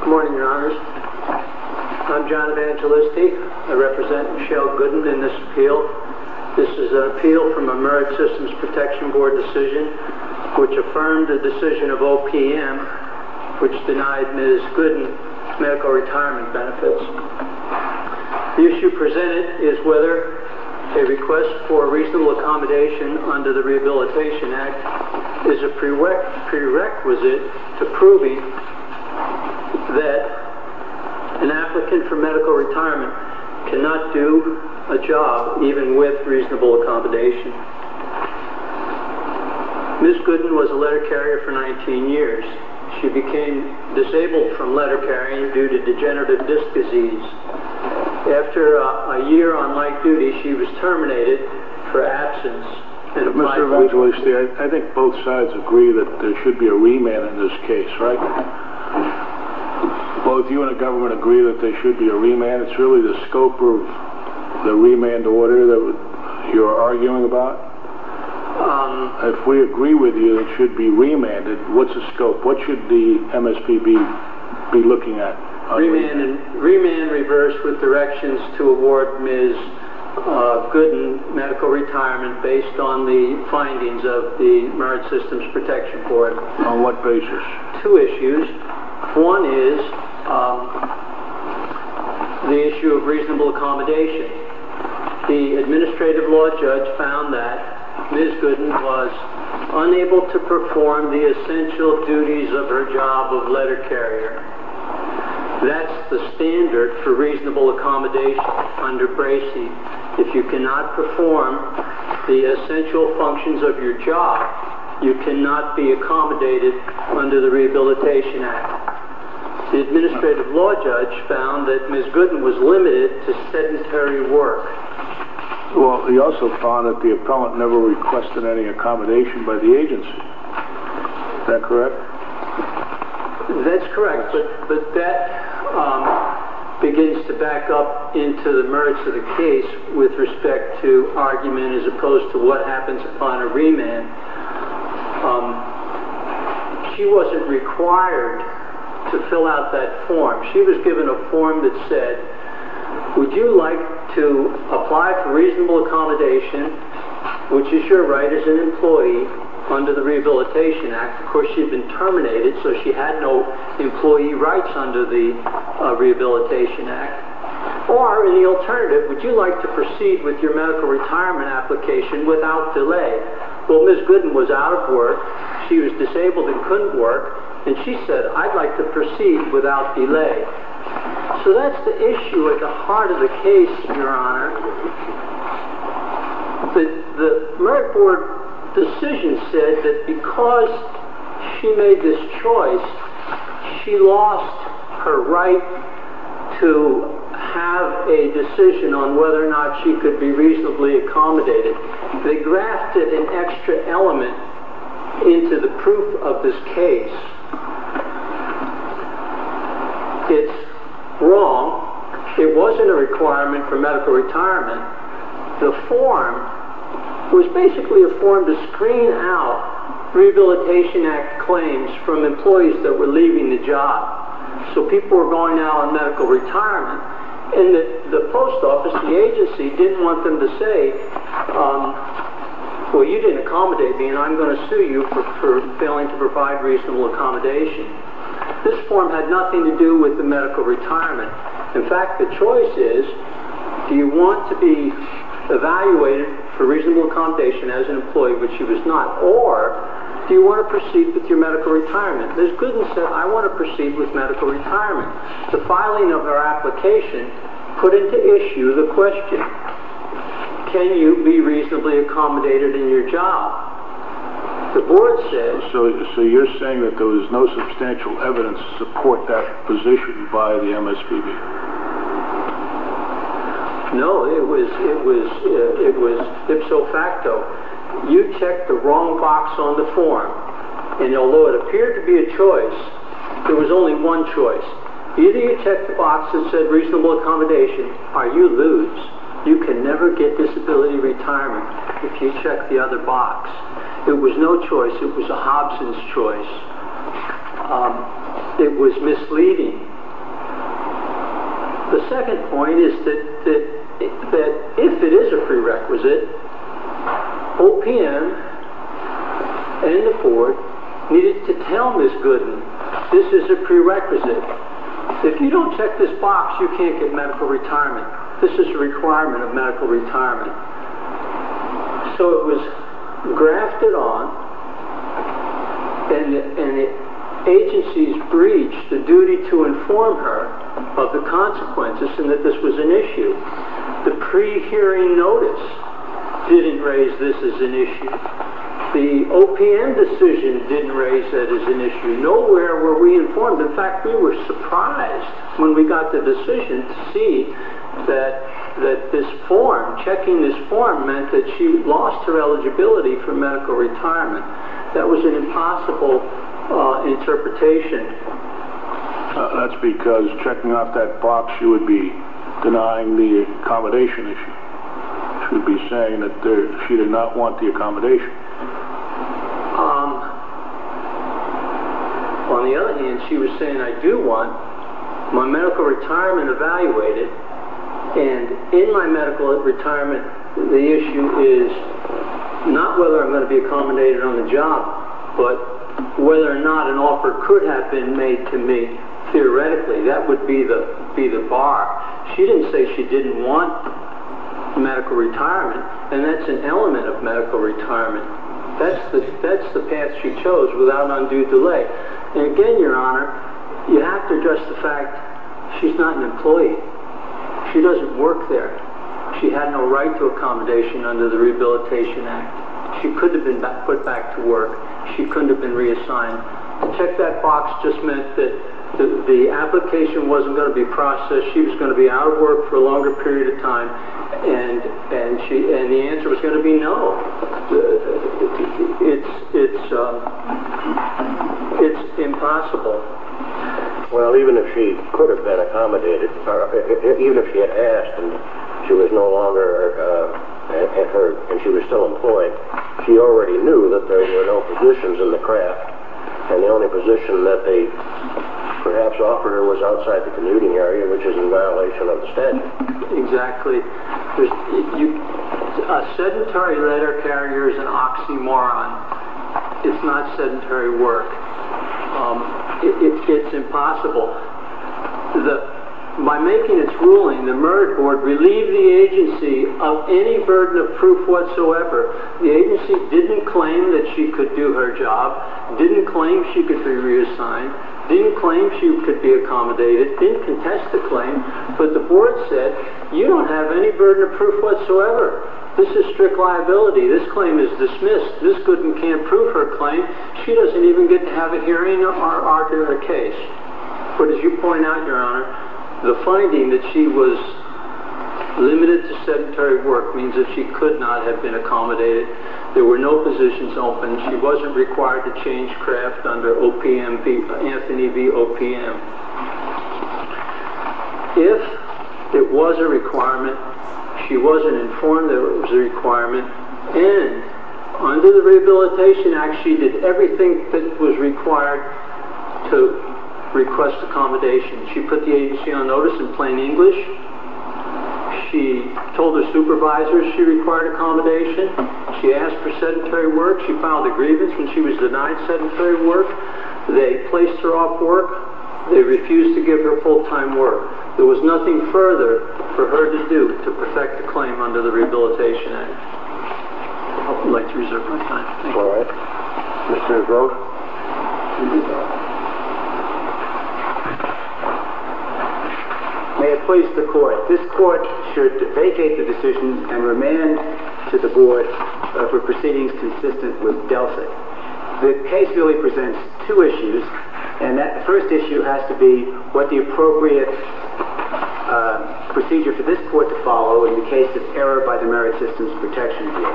Good morning, your honors. I'm John Evangelisti. I represent Michelle Gooden in this appeal. This is an appeal from a Merit Systems Protection Board decision which affirmed the decision of OPM which denied Ms. Gooden medical retirement benefits. The issue presented is whether a request for reasonable accommodation under the Rehabilitation Act is a prerequisite to proving that an applicant for medical retirement cannot do a job even with reasonable accommodation. Ms. Gooden was a letter carrier for 19 years. She became disabled from letter carrying due to degenerative disc disease. After a year on light duty, she was terminated for absence. Mr. Evangelisti, I think both sides agree that there should be a remand in this case, right? Both you and the government agree that there should be a remand? It's really the scope of the remand order that you're arguing about? If we agree with you that it should be remanded, what's the scope? What should the MSPB be looking at? Remand reversed with directions to award Ms. Gooden medical retirement based on the findings of the Merit Systems Protection Board. On what basis? Two issues. One is the issue of reasonable accommodation. The Administrative Law Judge found that Ms. Gooden was unable to perform the essential duties of her job of letter carrier. That's the standard for reasonable accommodation under Bracey. If you cannot perform the essential functions of your job, you cannot be accommodated under the Rehabilitation Act. The Administrative Law Judge found that Ms. Gooden was limited to sedentary work. He also found that the appellant never requested any accommodation by the agency. Is that correct? That's correct, but that begins to back up into the merits of the case with respect to argument as opposed to what happens upon a remand. She wasn't required to fill out that form. She was given a form that said, Would you like to apply for reasonable accommodation, which is your right as an employee, under the Rehabilitation Act? Of course, she had been terminated, so she had no employee rights under the Rehabilitation Act. Or, in the alternative, would you like to proceed with your medical retirement application without delay? Ms. Gooden was out of work. She was disabled and couldn't work. She said, I'd like to proceed without delay. So that's the issue at the heart of the case, Your Honor. The Merit Board decision said that because she made this choice, she lost her right to have a decision on whether or not she could be reasonably accommodated. They grafted an extra element into the proof of this case. It's wrong. It wasn't a requirement for medical retirement. The form was basically a form to screen out Rehabilitation Act claims from employees that were leaving the job. So people were going out on medical retirement. The post office, the agency, didn't want them to say, Well, you didn't accommodate me and I'm going to sue you for failing to provide reasonable accommodation. This form had nothing to do with the medical retirement. In fact, the choice is, do you want to be evaluated for reasonable accommodation as an employee, which she was not? Or, do you want to proceed with your medical retirement? Ms. Gooden said, I want to proceed with medical retirement. The filing of her application put into issue the question, can you be reasonably accommodated in your job? The board said... So you're saying that there was no substantial evidence to support that position by the MSPB? No, it was ipso facto. You checked the wrong box on the form and although it appeared to be a choice, it was only one choice. Either you checked the box that said reasonable accommodation or you lose. You can never get disability retirement if you check the other box. It was no choice. It was a Hobson's choice. It was misleading. The second point is that if it is a prerequisite, OPM and the board needed to tell Ms. Gooden this is a prerequisite. If you don't check this box, you can't get medical retirement. This is a requirement of medical retirement. So it was grafted on and agencies breached the duty to inform her of the consequences and that this was an issue. The pre-hearing notice didn't raise this as an issue. The OPM decision didn't raise that as an issue. Nowhere were we informed. In fact, we were surprised when we got the decision to see that checking this form meant that she lost her eligibility for medical retirement. That was an impossible interpretation. That's because checking off that box she would be denying the accommodation issue. She would be saying that she did not want the accommodation. On the other hand, she was saying I do want my medical retirement evaluated. In my medical retirement, the issue is not whether I'm going to be accommodated on the job, but whether or not an offer could have been made to me. Theoretically, that would be the bar. She didn't say she didn't want medical retirement, and that's an element of medical retirement. That's the path she chose without an undue delay. Again, Your Honor, you have to address the fact she's not an employee. She doesn't work there. She had no right to accommodation under the Rehabilitation Act. She could have been put back to work. She couldn't have been reassigned. Check that box just meant that the application wasn't going to be processed. She was going to be out of work for a longer period of time, and the answer was going to be no. It's impossible. Well, even if she could have been accommodated, even if she had asked and she was still employed, she already knew that there were no positions in the craft, and the only position that they perhaps offered her was outside the commuting area, which is in violation of the statute. Exactly. A sedentary letter carrier is an oxymoron. It's not sedentary work. It's impossible. By making its ruling, the merit board relieved the agency of any burden of proof whatsoever. The agency didn't claim that she could do her job, didn't claim she could be reassigned, didn't claim she could be accommodated, didn't contest the claim, but the board said, you don't have any burden of proof whatsoever. This is strict liability. This claim is dismissed. This couldn't and can't prove her claim. She doesn't even get to have a hearing or argue her case, but as you point out, Your Honor, the finding that she was limited to sedentary work means that she could not have been accommodated. There were no positions open. She wasn't required to change craft under Anthony v. OPM. If it was a requirement, she wasn't informed that it was a requirement, and under the Rehabilitation Act, she did everything that was required to request accommodation. She put the agency on notice in plain English. She told her supervisors she required accommodation. She asked for sedentary work. She filed a grievance when she was denied sedentary work. They placed her off work. They refused to give her full-time work. There was nothing further for her to do to perfect the claim under the Rehabilitation Act. I'd like to reserve my time. All right. Mr. O'Groat. May it please the Court, this Court should vacate the decision and remand to the board for proceedings consistent with DELFIC. The case really presents two issues, and the first issue has to be what the appropriate procedure for this Court to follow in the case of error by the Merit Systems Protection View.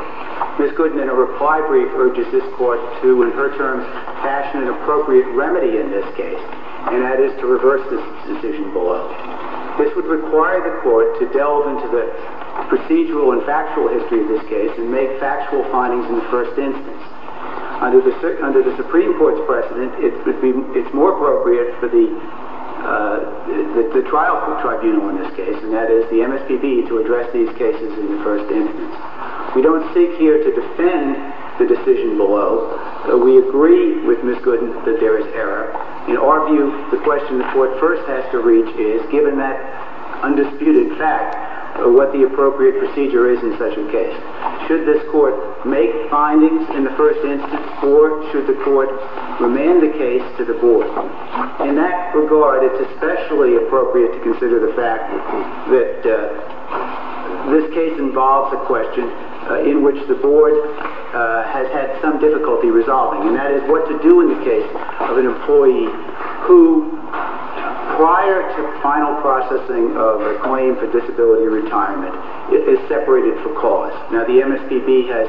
Ms. Goodman, in a reply brief, urges this Court to, in her terms, fashion an appropriate remedy in this case, and that is to reverse this decision below. This would require the Court to delve into the procedural and factual history of this case and make factual findings in the first instance. Under the Supreme Court's precedent, it's more appropriate for the trial tribunal in this case, and that is the MSPB, to address these cases in the first instance. We don't seek here to defend the decision below. We agree with Ms. Goodman that there is error. In our view, the question the Court first has to reach is, given that undisputed fact of what the appropriate procedure is in such a case, should this Court make findings in the first instance, or should the Court remand the case to the Board? In that regard, it's especially appropriate to consider the fact that this case involves a question in which the Board has had some difficulty resolving, and that is what to do in the case of an employee who, prior to final processing of a claim for disability retirement, is separated for cause. Now, the MSPB has,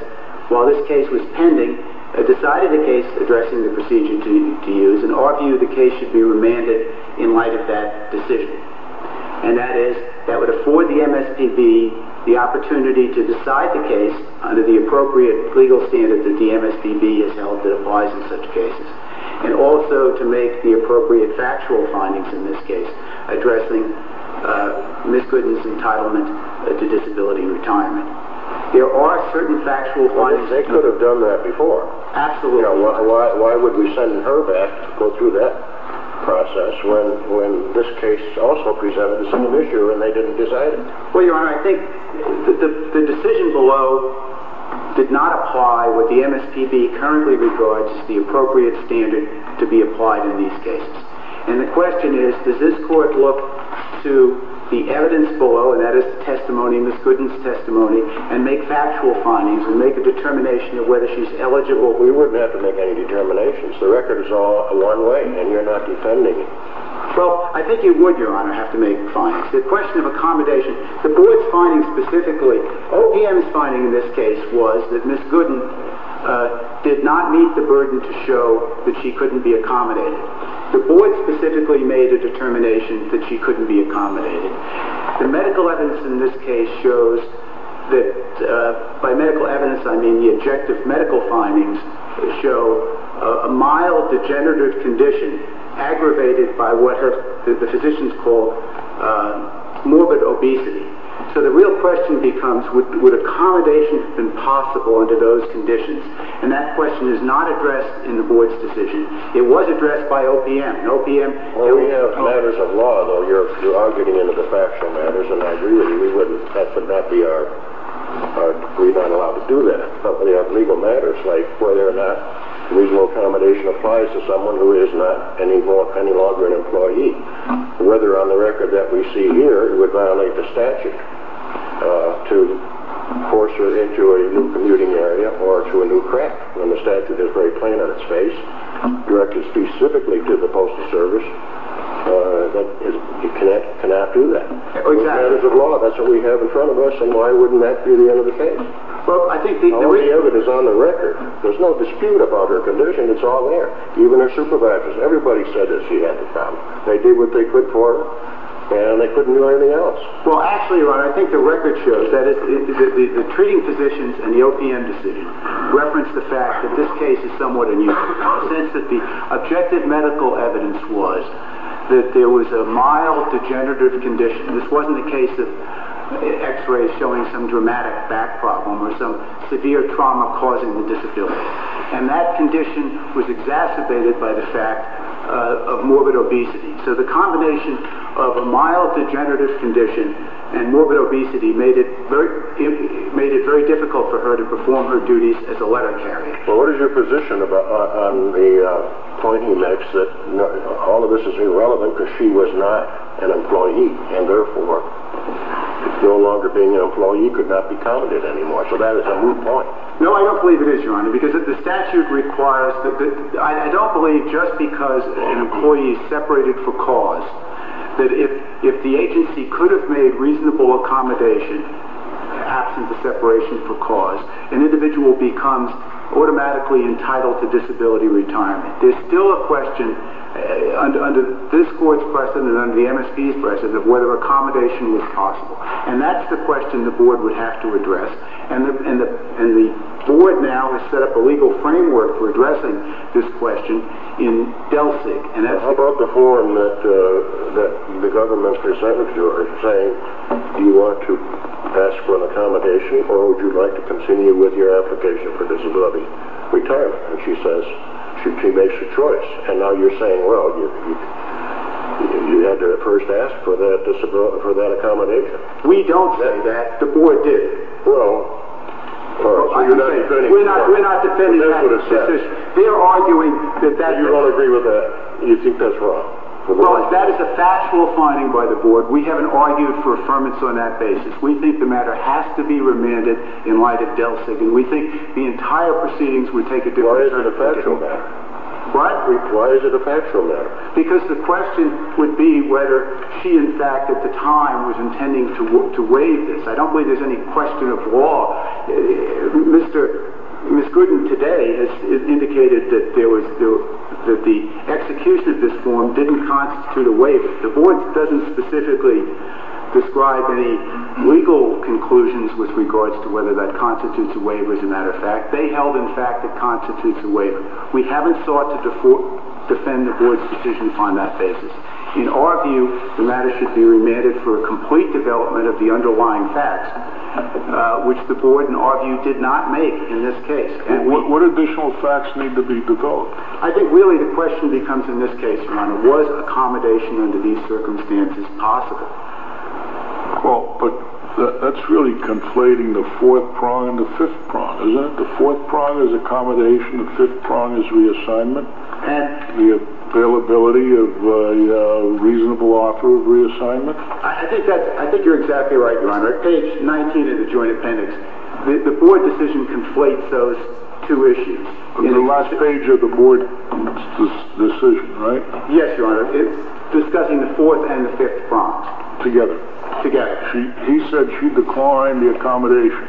while this case was pending, decided the case addressing the procedure to use, and our view the case should be remanded in light of that decision. And that is, that would afford the MSPB the opportunity to decide the case under the appropriate legal standards that the MSPB has held that applies in such cases, and also to make the appropriate factual findings in this case, addressing Ms. Gooden's entitlement to disability retirement. There are certain factual findings... Well, they could have done that before. Absolutely. Why would we send her back to go through that process when this case also presented the same issue and they didn't decide it? Well, Your Honor, I think the decision below did not apply what the MSPB currently regards the appropriate standard to be applied in these cases. And the question is, does this court look to the evidence below, and that is the testimony, Ms. Gooden's testimony, and make factual findings and make a determination of whether she's eligible? We wouldn't have to make any determinations. The record is all one way, and you're not defending it. Well, I think you would, Your Honor, have to make findings. The question of accommodation, the board's finding specifically, OPM's finding in this case was that Ms. Gooden did not meet the burden to show that she couldn't be accommodated. The board specifically made a determination that she couldn't be accommodated. The medical evidence in this case shows that, by medical evidence, I mean the objective medical findings show a mild degenerative condition aggravated by what the physicians call morbid obesity. So the real question becomes, would accommodation have been possible under those conditions? And that question is not addressed in the board's decision. It was addressed by OPM. When we have matters of law, though, you are getting into the factual matters, and I agree with you, we wouldn't, that would not be our, we're not allowed to do that. But we have legal matters like whether or not reasonable accommodation applies to someone who is not any longer an employee, whether on the record that we see here, it would violate the statute to force her into a new commuting area or through a new crack in the statute that is very plain on its face, directed specifically to the Postal Service, that you cannot do that. With matters of law, that's what we have in front of us, and why wouldn't that be the end of the case? All the evidence is on the record. There's no dispute about her condition. It's all there, even her supervisors. Everybody said that she had the problem. They did what they could for her, and they couldn't do anything else. Well, actually, Ron, I think the record shows that the treating physicians and the OPM decision reference the fact that this case is somewhat unusual in the sense that the objective medical evidence was that there was a mild degenerative condition. This wasn't the case of x-rays showing some dramatic back problem or some severe trauma causing the disability. And that condition was exacerbated by the fact of morbid obesity. So the combination of a mild degenerative condition and morbid obesity made it very difficult for her to perform her duties as a letter carrier. Well, what is your position on the point you make that all of this is irrelevant because she was not an employee and therefore no longer being an employee could not be counted anymore? So that is a moot point. No, I don't believe it is, Your Honor, because the statute requires that the— that if the agency could have made reasonable accommodation absent the separation for cause, an individual becomes automatically entitled to disability retirement. There's still a question under this Court's precedent and under the MSP's precedent of whether accommodation was possible, and that's the question the Board would have to address. And the Board now has set up a legal framework for addressing this question in DELCIC. How about the form that the government presented to her saying, do you want to pass for an accommodation or would you like to continue with your application for disability retirement? And she says—she makes a choice. And now you're saying, well, you had to first ask for that accommodation. We don't say that. The Board did. Well, you're not defending that. We're not defending that. That's what it says. They're arguing that that— You don't agree with that. You think that's wrong. Well, that is a factual finding by the Board. We haven't argued for affirmance on that basis. We think the matter has to be remanded in light of DELCIC, and we think the entire proceedings would take a different— Why is it a factual matter? What? Why is it a factual matter? Because the question would be whether she, in fact, at the time, was intending to waive this. I don't believe there's any question of law. Ms. Gooden today has indicated that the execution of this form didn't constitute a waiver. The Board doesn't specifically describe any legal conclusions with regards to whether that constitutes a waiver, as a matter of fact. They held, in fact, it constitutes a waiver. We haven't sought to defend the Board's decisions on that basis. In our view, the matter should be remanded for a complete development of the underlying facts, which the Board, in our view, did not make in this case. What additional facts need to be developed? I think, really, the question becomes, in this case, Ronald, was accommodation under these circumstances possible? Well, but that's really conflating the fourth prong and the fifth prong, isn't it? The fourth prong is accommodation. The fifth prong is reassignment. And? The availability of a reasonable offer of reassignment. I think you're exactly right, Ronald. Page 19 of the Joint Appendix. The Board decision conflates those two issues. The last page of the Board decision, right? Yes, Your Honor. It's discussing the fourth and the fifth prongs. Together. Together. He said she declined the accommodation.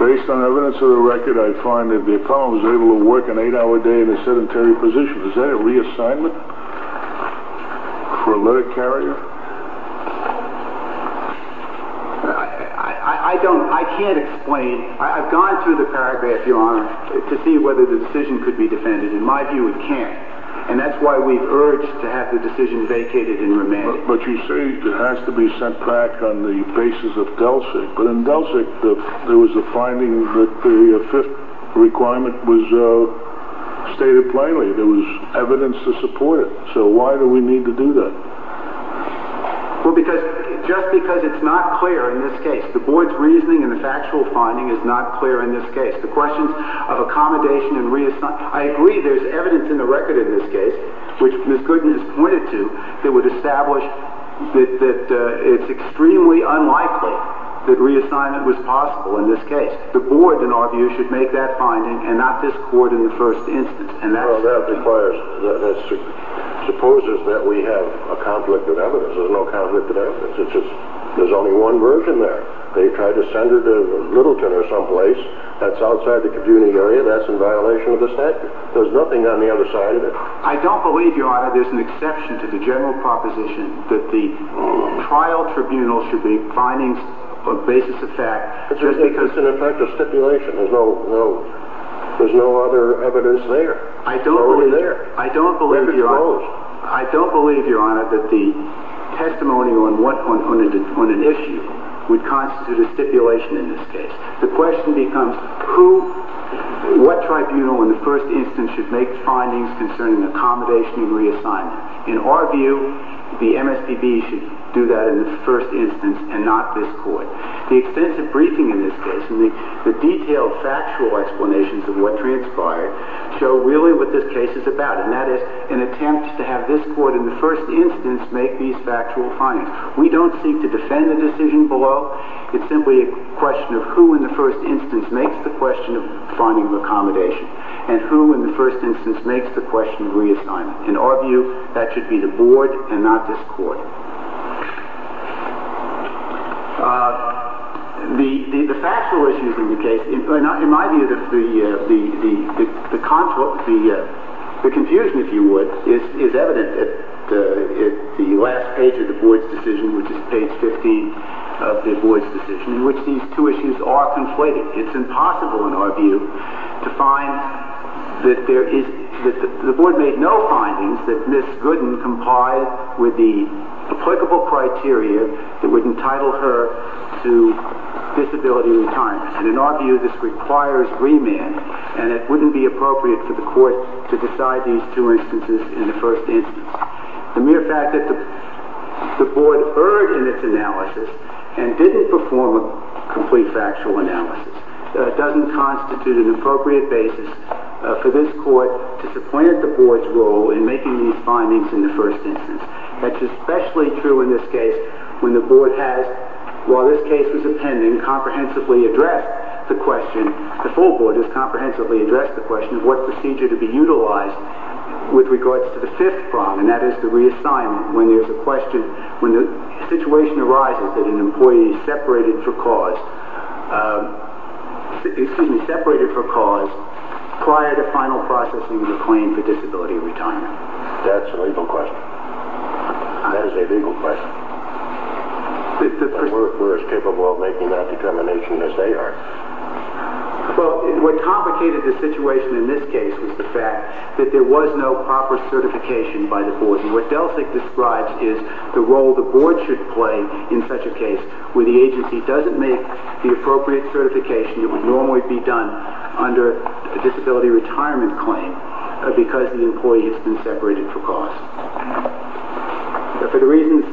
Based on evidence of the record, I find that the felon was able to work an eight-hour day in a sedentary position. Is that a reassignment for a letter carrier? I can't explain. I've gone through the paragraph, Your Honor, to see whether the decision could be defended. In my view, it can't. And that's why we've urged to have the decision vacated and remanded. But you say it has to be sent back on the basis of Delsic. But in Delsic, there was a finding that the fifth requirement was stated plainly. There was evidence to support it. So why do we need to do that? Well, just because it's not clear in this case. The Board's reasoning and the factual finding is not clear in this case. The question of accommodation and reassignment. I agree there's evidence in the record in this case, which Ms. Goodman has pointed to, that would establish that it's extremely unlikely that reassignment was possible in this case. The Board, in our view, should make that finding and not this court in the first instance. That supposes that we have a conflict of evidence. There's no conflict of evidence. There's only one version there. They tried to send her to Littleton or someplace. That's outside the community area. That's in violation of the statute. There's nothing on the other side of it. I don't believe, Your Honor, there's an exception to the general proposition that the trial tribunal should be finding a basis of fact just because— It's an effect of stipulation. There's no other evidence there. I don't believe, Your Honor, that the testimony on an issue would constitute a stipulation in this case. The question becomes what tribunal in the first instance should make findings concerning accommodation and reassignment. In our view, the MSPB should do that in the first instance and not this court. The extensive briefing in this case and the detailed factual explanations of what transpired show really what this case is about, and that is an attempt to have this court in the first instance make these factual findings. We don't seek to defend the decision below. It's simply a question of who in the first instance makes the question of finding accommodation and who in the first instance makes the question of reassignment. In our view, that should be the Board and not this court. The factual issues in the case—in my view, the confusion, if you would, is evident at the last page of the Board's decision, which is page 15 of the Board's decision, in which these two issues are conflated. It's impossible, in our view, to find that there is— applicable criteria that would entitle her to disability retirement. And in our view, this requires remand, and it wouldn't be appropriate for the court to decide these two instances in the first instance. The mere fact that the Board erred in its analysis and didn't perform a complete factual analysis doesn't constitute an appropriate basis for this court to supplant the Board's role in making these findings in the first instance. That's especially true in this case when the Board has, while this case was appending, comprehensively addressed the question—the full Board has comprehensively addressed the question of what procedure to be utilized with regards to the fifth problem, and that is the reassignment, when there's a question— when the situation arises that an employee is separated for cause— excuse me—separated for cause prior to final processing of the claim for disability retirement. That's a legal question. That is a legal question. We're as capable of making that determination as they are. Well, what complicated the situation in this case was the fact that there was no proper certification by the Board, and what Delsig describes is the role the Board should play in such a case where the agency doesn't make the appropriate certification that would normally be done under a disability retirement claim because the employee has been separated for cause. For the reasons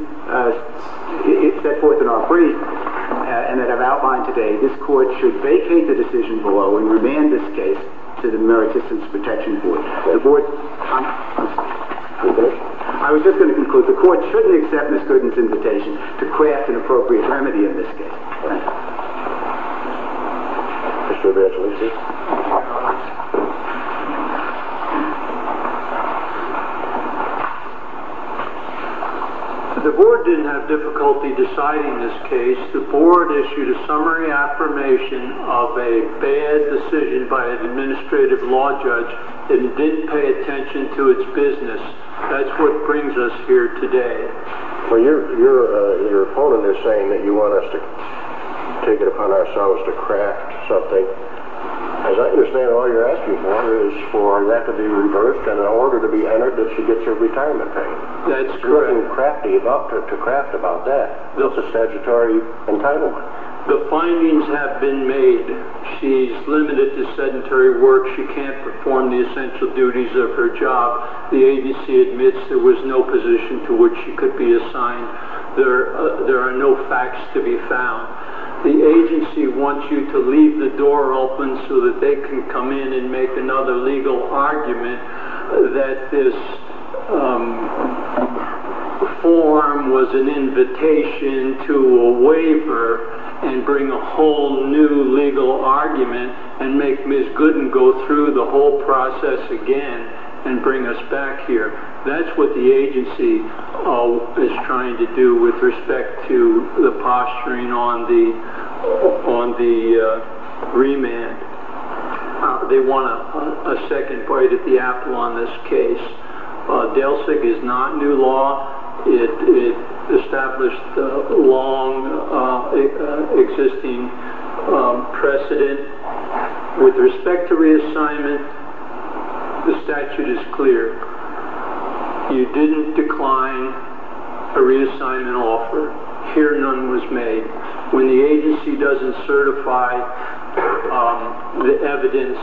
set forth in our brief and that I've outlined today, this Court should vacate the decision below and remand this case to the Merit Systems Protection Board. The Board—I was just going to conclude. The Court shouldn't accept Ms. Gooden's invitation to craft an appropriate remedy in this case. Thank you. Mr. Evangelisi. The Board didn't have difficulty deciding this case. The Board issued a summary affirmation of a bad decision by an administrative law judge that didn't pay attention to its business. That's what brings us here today. Well, your opponent is saying that you want us to take it upon ourselves to craft something. As I understand it, all you're asking for is for that to be reversed and an order to be entered that she gets her retirement payment. That's correct. You're going to craft about that. That's a statutory entitlement. The findings have been made. She's limited to sedentary work. She can't perform the essential duties of her job. The agency admits there was no position to which she could be assigned. There are no facts to be found. The agency wants you to leave the door open so that they can come in and make another legal argument that this form was an invitation to a waiver and bring a whole new legal argument and make Ms. Gooden go through the whole process again and bring us back here. That's what the agency is trying to do with respect to the posturing on the remand. They want a second bite at the apple on this case. DELCIC is not new law. It established a long existing precedent. With respect to reassignment, the statute is clear. You didn't decline a reassignment offer. Here none was made. When the agency doesn't certify, the evidence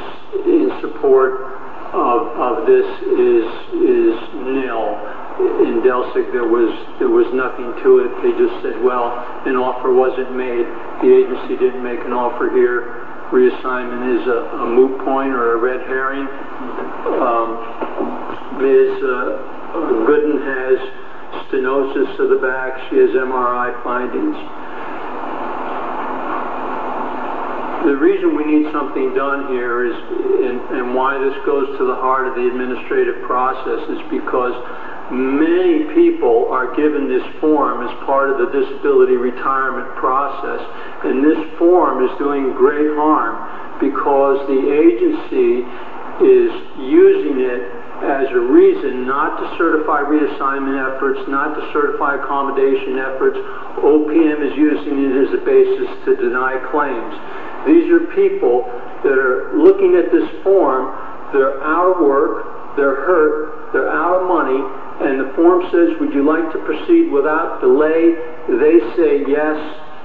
in support of this is nil. In DELCIC there was nothing to it. They just said, well, an offer wasn't made. The agency didn't make an offer here. Reassignment is a moot point or a red herring. Ms. Gooden has stenosis to the back. She has MRI findings. The reason we need something done here and why this goes to the heart of the administrative process is because many people are given this form as part of the disability retirement process. This form is doing great harm because the agency is using it as a reason not to certify reassignment efforts, not to certify accommodation efforts. OPM is using it as a basis to deny claims. These are people that are looking at this form. They're out of work. They're hurt. They're out of money. And the form says, would you like to proceed without delay? They say yes.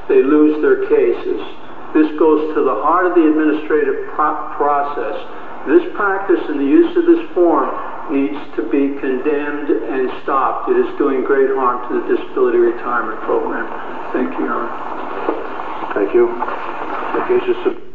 They lose their cases. This goes to the heart of the administrative process. This practice and the use of this form needs to be condemned and stopped. It is doing great harm to the disability retirement program. Thank you, Your Honor. Thank you.